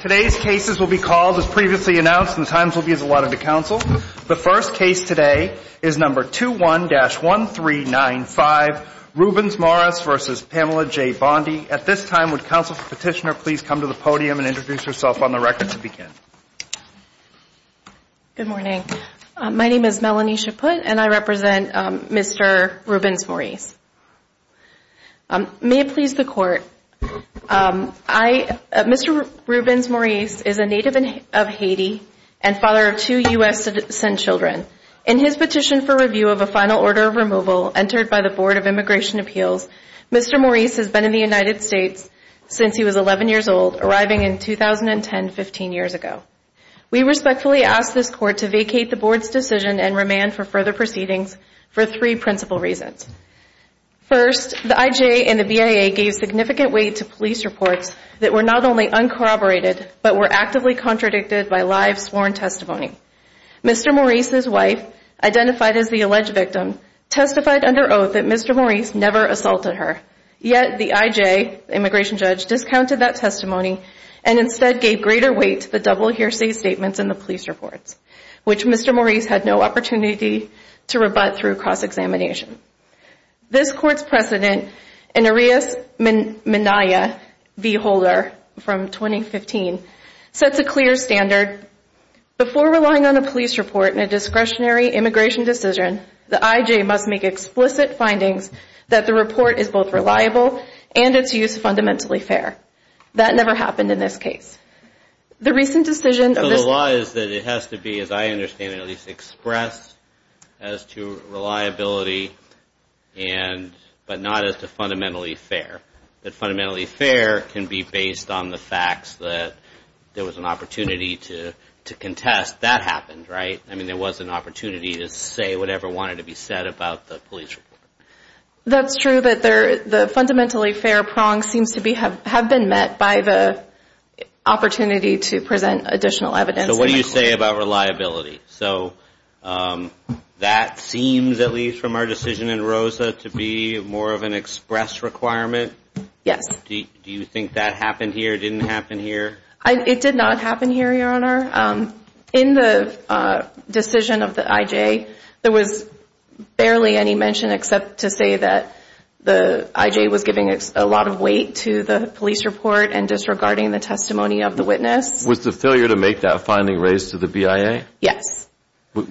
Today's cases will be called, as previously announced, and the times will be as allotted to counsel. The first case today is number 21-1395, Rubens-Morris v. Pamela J. Bondi. At this time, would counsel's petitioner please come to the podium and introduce herself on the record to begin? Good morning. My name is Melaniesha Putt, and I represent Mr. Rubens-Morris. May it please the Court, Mr. Rubens-Morris is a native of Haiti and father of two U.S. citizen children. In his petition for review of a final order of removal entered by the Board of Immigration Appeals, Mr. Morris has been in the United States since he was 11 years old, arriving in 2010, 15 years ago. We respectfully ask this Court to vacate the Board's decision and remand for further proceedings for three principal reasons. First, the I.J. and the B.I.A. gave significant weight to police reports that were not only uncorroborated, but were actively contradicted by live sworn testimony. Mr. Morris' wife, identified as the alleged victim, testified under oath that Mr. Morris never assaulted her. Yet, the I.J., immigration judge, discounted that testimony and instead gave greater weight to the double hearsay statements in the police reports, which Mr. Morris had no opportunity to rebut through cross-examination. This Court's precedent, in Arias-Minaya v. Holder from 2015, sets a clear standard. Before relying on a police report in a discretionary immigration decision, the I.J. must make explicit findings that the report is both reliable and its use fundamentally fair. That never happened in this case. The law is that it has to be, as I understand it, at least expressed as to reliability, but not as to fundamentally fair. That fundamentally fair can be based on the facts that there was an opportunity to contest. That happened, right? I mean, there was an opportunity to say whatever wanted to be said about the police report. That's true that the fundamentally fair prong seems to have been met by the opportunity to present additional evidence. So what do you say about reliability? So that seems, at least from our decision in Rosa, to be more of an expressed requirement? Yes. Do you think that happened here, didn't happen here? It did not happen here, Your Honor. In the decision of the I.J., there was barely any mention except to say that the I.J. was giving a lot of weight to the police report and disregarding the testimony of the witness. Was the failure to make that finding raised to the BIA? Yes. Do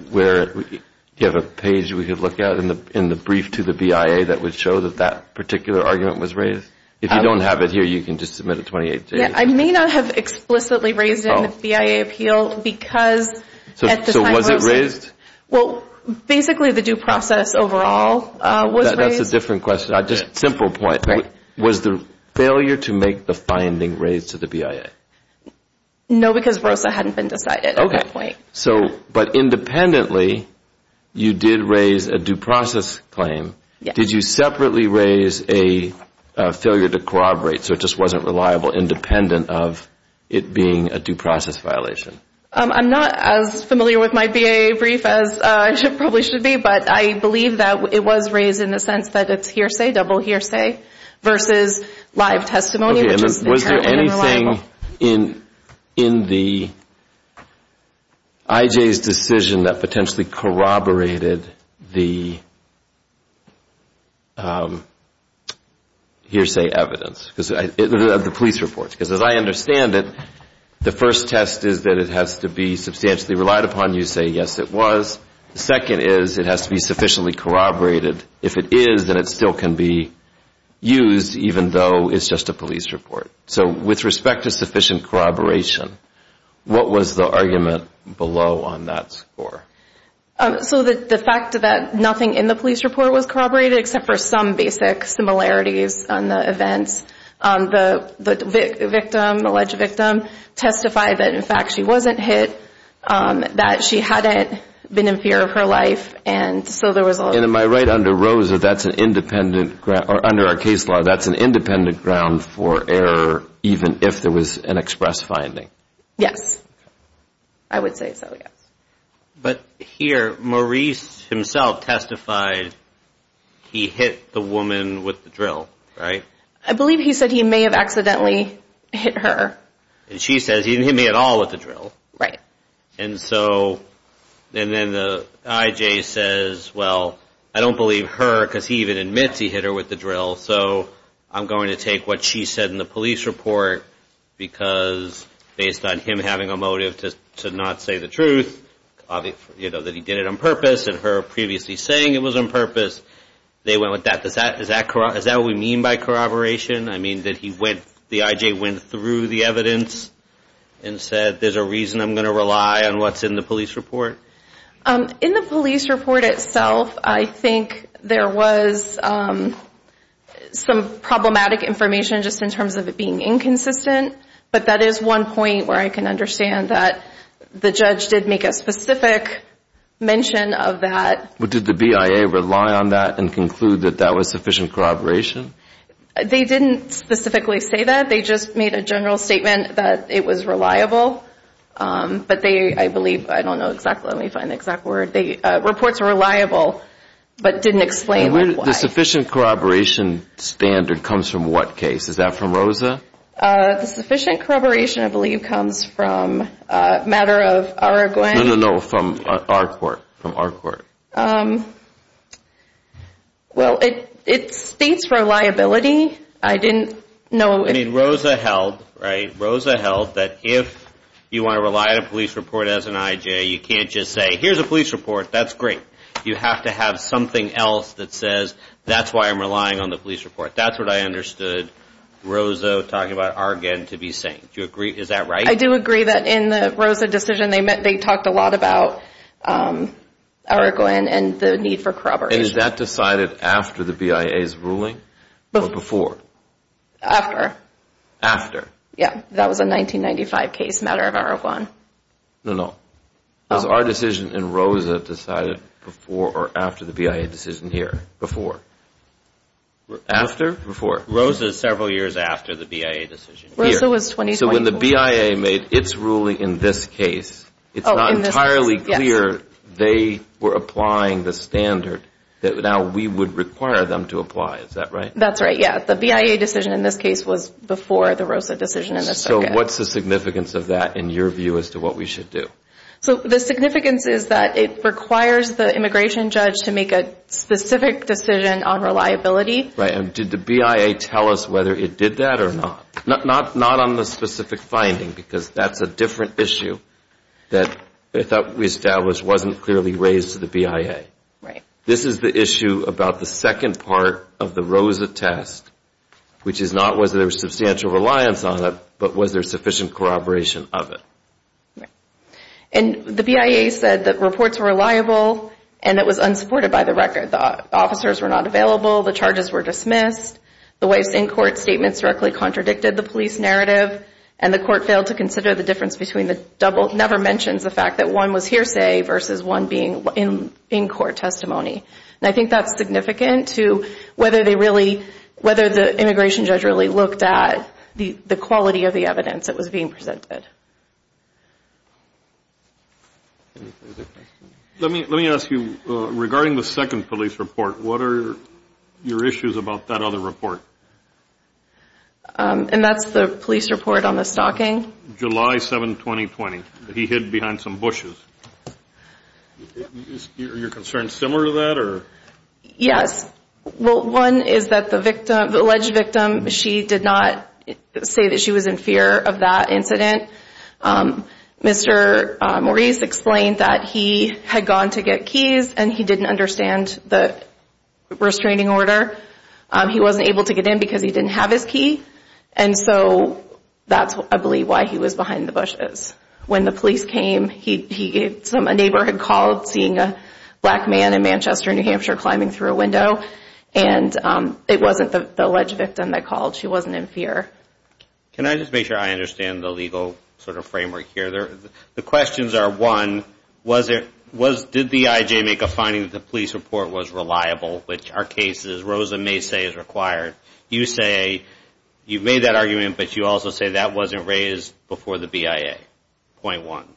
you have a page we could look at in the brief to the BIA that would show that that particular argument was raised? If you don't have it here, you can just submit a 28-J. I may not have explicitly raised it in the BIA appeal because at the time Rosa... So was it raised? Well, basically the due process overall was raised. That's a different question. Just a simple point. Was the failure to make the finding raised to the BIA? No, because Rosa hadn't been decided at that point. But independently, you did raise a due process claim. Yes. Did you separately raise a failure to corroborate so it just wasn't reliable independent of it being a due process violation? I'm not as familiar with my BIA brief as I probably should be. But I believe that it was raised in the sense that it's hearsay, double hearsay versus live testimony, which is inherently unreliable. I'm saying in the IJ's decision that potentially corroborated the hearsay evidence of the police reports. Because as I understand it, the first test is that it has to be substantially relied upon. You say, yes, it was. The second is it has to be sufficiently corroborated. If it is, then it still can be used even though it's just a police report. So with respect to sufficient corroboration, what was the argument below on that score? So the fact that nothing in the police report was corroborated except for some basic similarities on the events. The victim, alleged victim, testified that in fact she wasn't hit, that she hadn't been in fear of her life. Am I right under Rosa, that's an independent, under our case law, that's an independent ground for error even if there was an express finding? Yes. I would say so, yes. But here, Maurice himself testified he hit the woman with the drill, right? I believe he said he may have accidentally hit her. And she says he didn't hit me at all with the drill. Right. And so, and then the IJ says, well, I don't believe her because he even admits he hit her with the drill. So I'm going to take what she said in the police report because based on him having a motive to not say the truth, that he did it on purpose and her previously saying it was on purpose, they went with that. Is that what we mean by corroboration? I mean, that he went, the IJ went through the evidence and said there's a reason I'm going to rely on what's in the police report? In the police report itself, I think there was some problematic information just in terms of it being inconsistent. But that is one point where I can understand that the judge did make a specific mention of that. But did the BIA rely on that and conclude that that was sufficient corroboration? They didn't specifically say that. They just made a general statement that it was reliable. But they, I believe, I don't know exactly. Let me find the exact word. Reports are reliable, but didn't explain why. The sufficient corroboration standard comes from what case? Is that from ROSA? The sufficient corroboration, I believe, comes from a matter of Aragoin. No, no, no. From our court. From our court. Well, it states reliability. I didn't know. I mean, ROSA held, right? ROSA held that if you want to rely on a police report as an IJ, you can't just say here's a police report. That's great. You have to have something else that says that's why I'm relying on the police report. That's what I understood ROSA talking about Aragoin to be saying. Do you agree? Is that right? I do agree that in the ROSA decision, they talked a lot about Aragoin and the need for corroboration. And is that decided after the BIA's ruling or before? After. Yeah. That was a 1995 case, a matter of Aragoin. No, no. Was our decision in ROSA decided before or after the BIA decision here? Before. After? Before. ROSA is several years after the BIA decision. ROSA was 2024. So when the BIA made its ruling in this case, it's not entirely clear they were applying the standard that now we would require them to apply. Is that right? That's right, yeah. The BIA decision in this case was before the ROSA decision in this circuit. So what's the significance of that in your view as to what we should do? So the significance is that it requires the immigration judge to make a specific decision on reliability. Right, and did the BIA tell us whether it did that or not? Not on the specific finding, because that's a different issue that I thought we established wasn't clearly raised to the BIA. Right. This is the issue about the second part of the ROSA test, which is not was there substantial reliance on it, but was there sufficient corroboration of it? Right. And the BIA said that reports were reliable and it was unsupported by the record. The officers were not available, the charges were dismissed, the ways in court statements directly contradicted the police narrative, and the court failed to consider the difference between the double, never mentions the fact that one was hearsay versus one being in court testimony. And I think that's significant to whether they really, whether the immigration judge really looked at the quality of the evidence that was being presented. Any further questions? Let me ask you, regarding the second police report, what are your issues about that other report? And that's the police report on the stalking? July 7, 2020. He hid behind some bushes. Are your concerns similar to that, or? Yes. Well, one is that the victim, the alleged victim, she did not say that she was in fear of that incident. Mr. Maurice explained that he had gone to get keys and he didn't understand the restraining order. He wasn't able to get in because he didn't have his key. And so that's, I believe, why he was behind the bushes. When the police came, a neighbor had called, seeing a black man in Manchester, New Hampshire, climbing through a window. And it wasn't the alleged victim that called. She wasn't in fear. Can I just make sure I understand the legal sort of framework here? The questions are, one, did the IJ make a finding that the police report was reliable, which our case, as Rosa may say, is required? You say, you've made that argument, but you also say that wasn't raised before the BIA. Point one.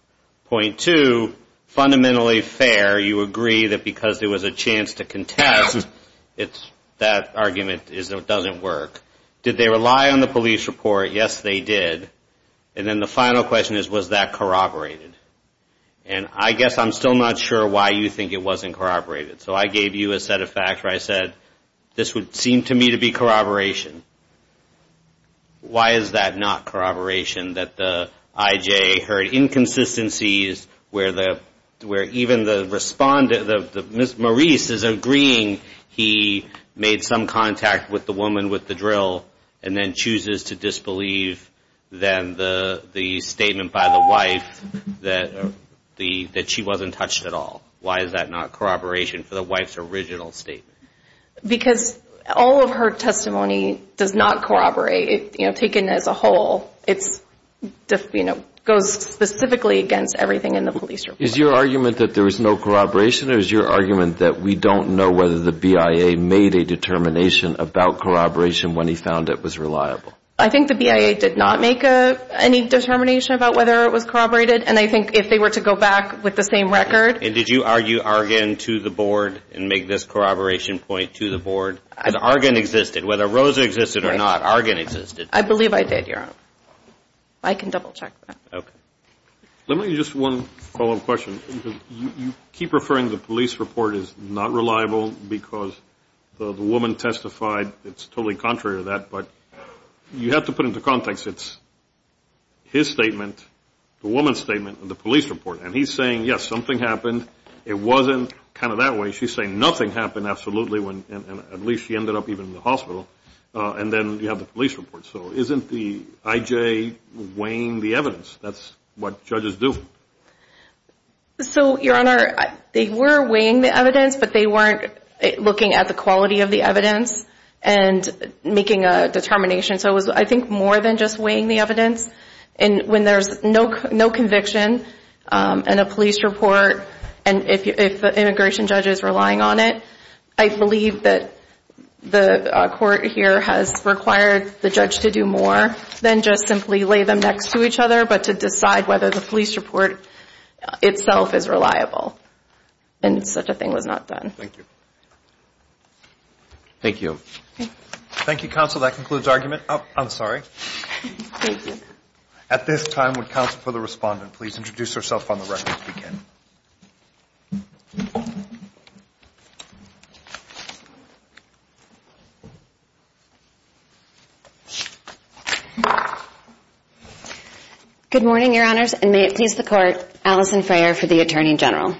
Point two, fundamentally fair, you agree that because there was a chance to contest, that argument doesn't work. Did they rely on the police report? Yes, they did. And then the final question is, was that corroborated? And I guess I'm still not sure why you think it wasn't corroborated. So I gave you a set of facts where I said, this would seem to me to be corroboration. Why is that not corroboration, that the IJ heard inconsistencies where even the respondent, that Ms. Maurice is agreeing he made some contact with the woman with the drill, and then chooses to disbelieve then the statement by the wife that she wasn't touched at all? Why is that not corroboration for the wife's original statement? Because all of her testimony does not corroborate, taken as a whole. It goes specifically against everything in the police report. Is your argument that there was no corroboration, or is your argument that we don't know whether the BIA made a determination about corroboration when he found it was reliable? I think the BIA did not make any determination about whether it was corroborated, and I think if they were to go back with the same record... And did you argue Argan to the board and make this corroboration point to the board? Because Argan existed. Whether Rosa existed or not, Argan existed. I believe I did, Your Honor. I can double check that. Let me ask you just one follow-up question. You keep referring to the police report as not reliable because the woman testified. It's totally contrary to that, but you have to put into context it's his statement, the woman's statement, and the police report. And he's saying, yes, something happened. It wasn't kind of that way. She's saying nothing happened, absolutely, and at least she ended up even in the hospital. And then you have the police report. So isn't the IJ weighing the evidence? That's what judges do. So, Your Honor, they were weighing the evidence, but they weren't looking at the quality of the evidence and making a determination. So it was, I think, more than just weighing the evidence. And when there's no conviction and a police report, and if the immigration judge is relying on it, I believe that the court here has required the judge to do more than just simply lay them next to each other, but to decide whether the police report itself is reliable. And such a thing was not done. Thank you. Thank you. Thank you, counsel. That concludes argument. I'm sorry. Thank you. At this time, would counsel for the respondent please introduce herself on the record if you can. Good morning, Your Honors, and may it please the court, Allison Freyer for the Attorney General.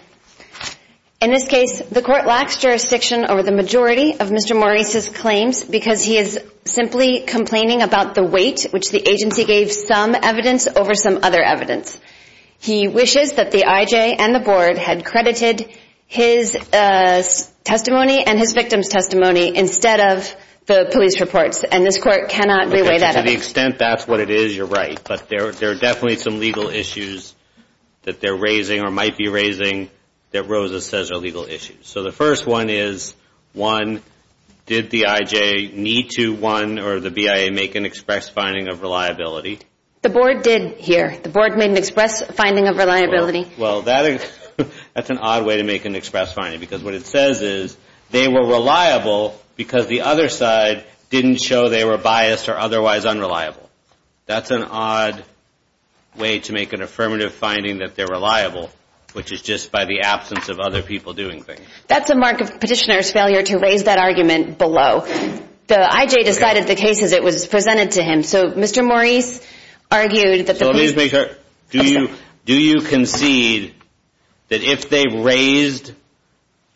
In this case, the court lacks jurisdiction over the majority of Mr. Maurice's claims because he is simply complaining about the weight which the agency gave some evidence over some other evidence. He wishes that the IJ and the board had credited his testimony and his victim's testimony instead of the police reports. And this court cannot re-weigh that evidence. To the extent that's what it is, you're right. But there are definitely some legal issues that they're raising or might be raising that Rosa says are legal issues. So the first one is, one, did the IJ need to, one, or the BIA make an express finding of reliability? The board did here. The board made an express finding of reliability. Well, that's an odd way to make an express finding because what it says is they were reliable because the other side didn't show they were biased or otherwise unreliable. That's an odd way to make an affirmative finding that they're reliable, which is just by the absence of other people doing things. That's a mark of petitioner's failure to raise that argument below. The IJ decided the case as it was presented to him. So Mr. Maurice argued that the police... So let me just make sure. Do you concede that if they raised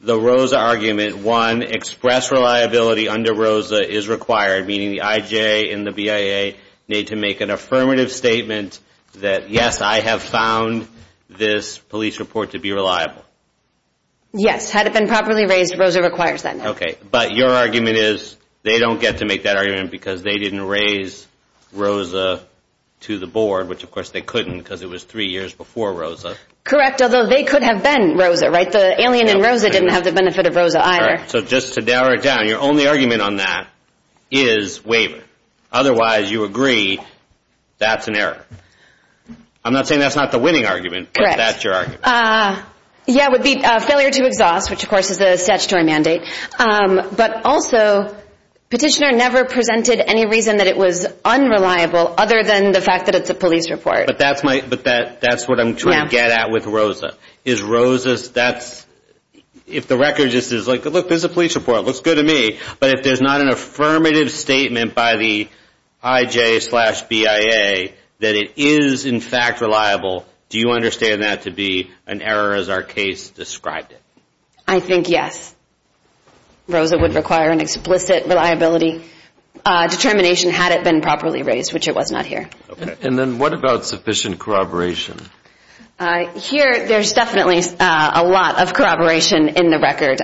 the Rosa argument, one, express reliability under Rosa is required, meaning the IJ and the BIA need to make an affirmative statement that, yes, I have found this police report to be reliable? Yes. Had it been properly raised, Rosa requires that now. Okay. But your argument is they don't get to make that argument because they didn't raise Rosa to the board, which, of course, they couldn't because it was three years before Rosa. Correct, although they could have been Rosa, right? The alien in Rosa didn't have the benefit of Rosa either. So just to narrow it down, your only argument on that is waiver. Otherwise, you agree that's an error. I'm not saying that's not the winning argument, but that's your argument. Yeah, with the failure to exhaust, which, of course, is the statutory mandate. But also, petitioner never presented any reason that it was unreliable other than the fact that it's a police report. But that's what I'm trying to get at with Rosa. Is Rosa's, that's, if the record just is like, look, there's a police report, looks good to me, but if there's not an affirmative statement by the IJ slash BIA that it is, in fact, reliable, do you understand that to be an error as our case described it? I think yes. Rosa would require an explicit reliability determination had it been properly raised, which it was not here. And then what about sufficient corroboration? Here, there's definitely a lot of corroboration in the record.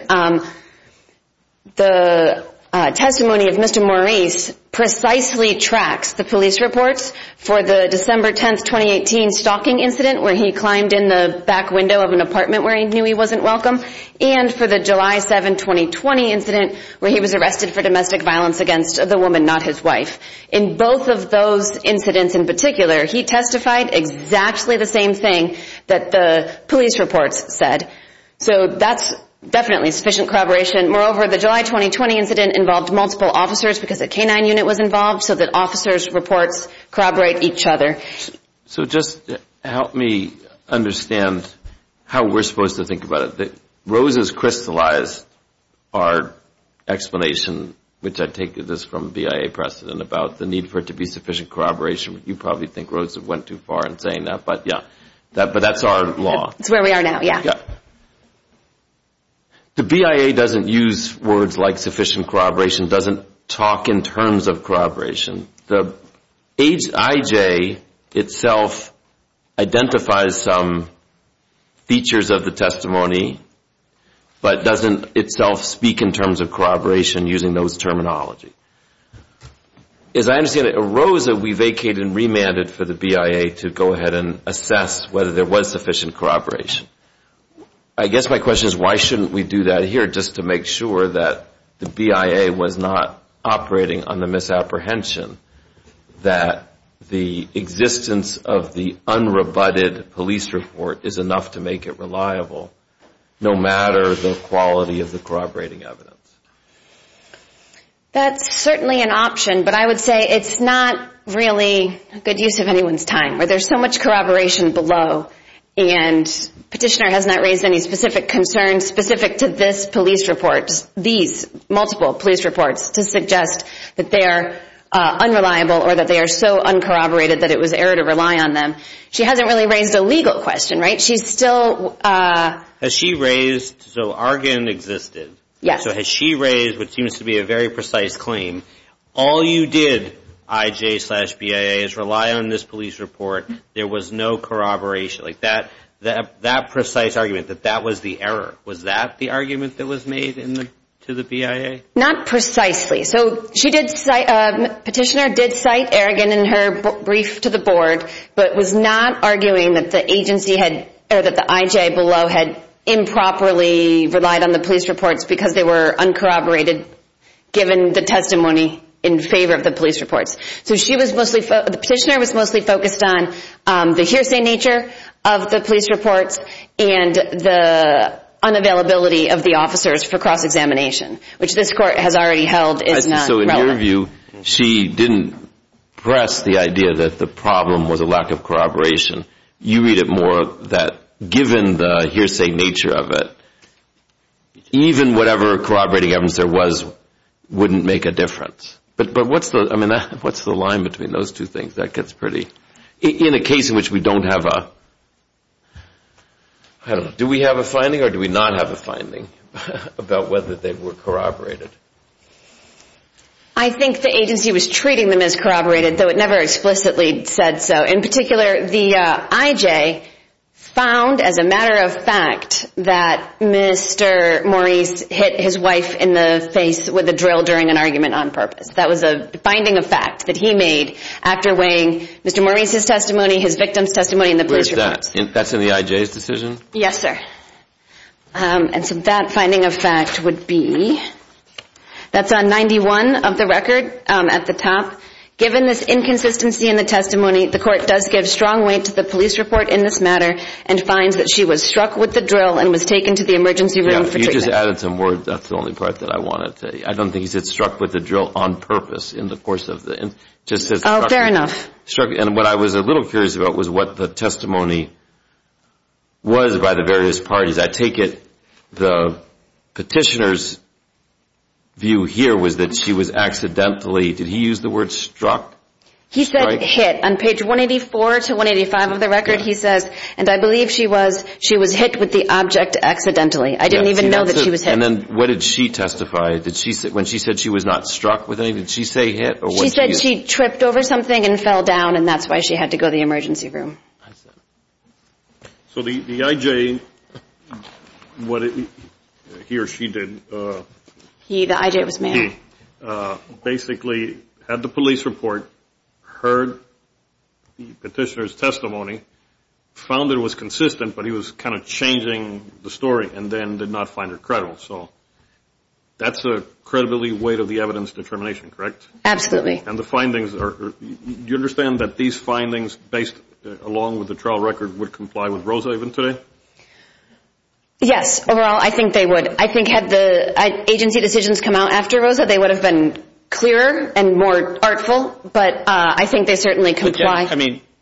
The testimony of Mr. Maurice precisely tracks the police reports for the December 10th, 2018, stalking incident where he climbed in the back window of an apartment where he knew he wasn't welcome, and for the July 7th, 2020 incident where he was arrested for domestic violence against the woman, not his wife. In both of those incidents in particular, he testified exactly the same thing that the police reports said. So that's definitely sufficient corroboration. Moreover, the July 2020 incident involved multiple officers because a canine unit was involved so that officers' reports corroborate each other. So just help me understand how we're supposed to think about it. Rosa's crystallized our explanation, which I take this from BIA precedent, about the need for it to be sufficient corroboration. You probably think Rosa went too far in saying that, but yeah. But that's our law. It's where we are now, yeah. The BIA doesn't use words like sufficient corroboration, doesn't talk in terms of corroboration. The IJ itself identifies some features of the testimony, but doesn't itself speak in terms of corroboration using those terminology. As I understand it, Rosa, we vacated and remanded for the BIA to go ahead and assess whether there was sufficient corroboration. I guess my question is why shouldn't we do that here just to make sure that the BIA was not operating on the misapprehension, that the existence of the unrebutted police report is enough to make it reliable, no matter the quality of the corroborating evidence? That's certainly an option, but I would say it's not really a good use of anyone's time where there's so much corroboration below and Petitioner has not raised any specific concerns specific to this police report. These multiple police reports to suggest that they are unreliable or that they are so uncorroborated that it was error to rely on them. She hasn't really raised a legal question, right? She's still... Has she raised, so Argan existed. Yes. So has she raised what seems to be a very precise claim? All you did, IJ slash BIA, is rely on this police report. There was no corroboration. Like that precise argument, that that was the error. Was that the argument that was made to the BIA? Not precisely. Petitioner did cite Argan in her brief to the board, but was not arguing that the IJ below had improperly relied on the police reports because they were uncorroborated given the testimony in favor of the police reports. So the Petitioner was mostly focused on the hearsay nature of the police reports and the unavailability of the officers for cross-examination, which this court has already held is not relevant. So in your view, she didn't press the idea that the problem was a lack of corroboration. You read it more that given the hearsay nature of it, even whatever corroborating evidence there was wouldn't make a difference. But what's the line between those two things? In a case in which we don't have a, I don't know, do we have a finding or do we not have a finding about whether they were corroborated? I think the agency was treating them as corroborated, though it never explicitly said so. In particular, the IJ found as a matter of fact that Mr. Maurice hit his wife in the face with a drill during an argument on purpose. That was a finding of fact that he made after weighing Mr. Maurice's testimony, his victim's testimony, and the police reports. Where's that? That's in the IJ's decision? Yes, sir. And so that finding of fact would be, that's on 91 of the record at the top. Given this inconsistency in the testimony, the court does give strong weight to the police report in this matter and finds that she was struck with the drill and was taken to the emergency room for treatment. You just added some words. That's the only part that I want to say. I don't think he said struck with the drill on purpose in the course of the... Oh, fair enough. And what I was a little curious about was what the testimony was by the various parties. I take it the petitioner's view here was that she was accidentally, did he use the word struck? He said hit. On page 184 to 185 of the record, he says, and I believe she was hit with the object accidentally. I didn't even know that she was hit. And then what did she testify? When she said she was not struck with anything, did she say hit? She said she tripped over something and fell down, and that's why she had to go to the emergency room. I see. So the IJ, what he or she did... The IJ was mayor. Basically had the police report, heard the petitioner's testimony, found it was consistent, but he was kind of changing the story and then did not find it credible. So that's a credibility weight of the evidence determination, correct? Absolutely. Do you understand that these findings, based along with the trial record, would comply with ROSA even today? Yes. Overall, I think they would. I think had the agency decisions come out after ROSA, they would have been clearer and more artful, but I think they certainly comply.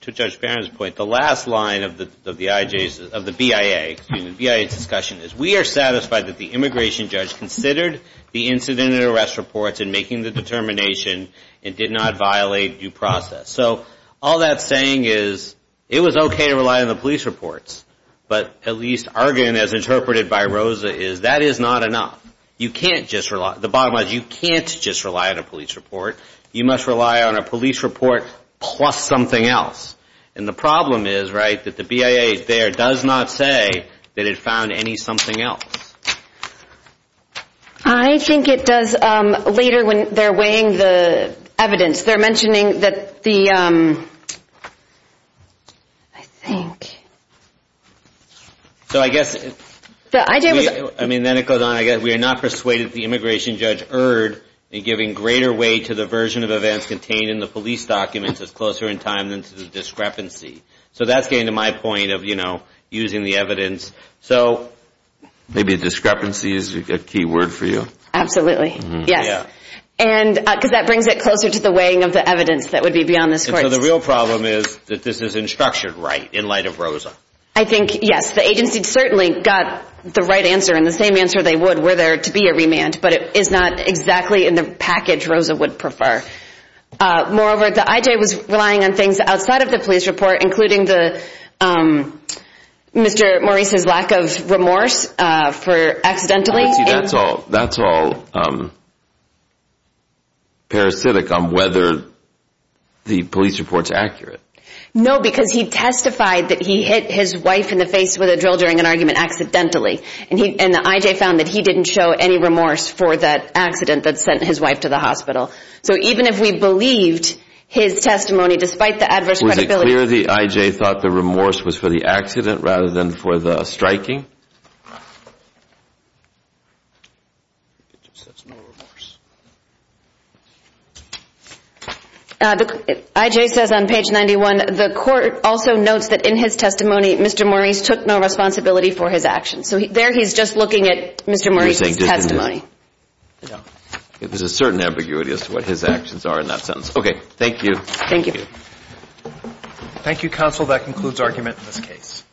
To Judge Barron's point, the last line of the IJ's, of the BIA, excuse me, BIA's discussion is, we are satisfied that the immigration judge considered the incident and arrest reports in making the determination and did not violate due process. So all that's saying is, it was okay to rely on the police reports, but at least Argonne, as interpreted by ROSA, is that is not enough. You can't just rely... The bottom line is, you can't just rely on a police report. You must rely on a police report plus something else. And the problem is, right, that the BIA there does not say that it found any something else. I think it does later when they're weighing the evidence. They're mentioning that the... I think... So I guess... The IJ was... I mean, then it goes on. We are not persuaded that the immigration judge erred in giving greater weight to the version of events contained in the police documents as closer in time than to the discrepancy. So that's getting to my point of, you know, using the evidence. So... Maybe discrepancy is a key word for you. Absolutely, yes. Because that brings it closer to the weighing of the evidence that would be beyond this court's... So the real problem is that this is unstructured, right, in light of ROSA. I think, yes, the agency certainly got the right answer and the same answer they would were there to be a remand, but it is not exactly in the package ROSA would prefer. Moreover, the IJ was relying on things outside of the police report, including the... Mr. Maurice's lack of remorse for accidentally... That's all... parasitic on whether the police report's accurate. No, because he testified that he hit his wife in the face with a drill during an argument accidentally, and the IJ found that he didn't show any remorse for that accident that sent his wife to the hospital. So even if we believed his testimony, despite the adverse credibility... Was it clear the IJ thought the remorse was for the accident rather than for the striking? The IJ says on page 91, the court also notes that in his testimony, Mr. Maurice took no responsibility for his actions. So there he's just looking at Mr. Maurice's testimony. There's a certain ambiguity as to what his actions are in that sentence. Okay, thank you. Thank you, counsel. That concludes argument in this case.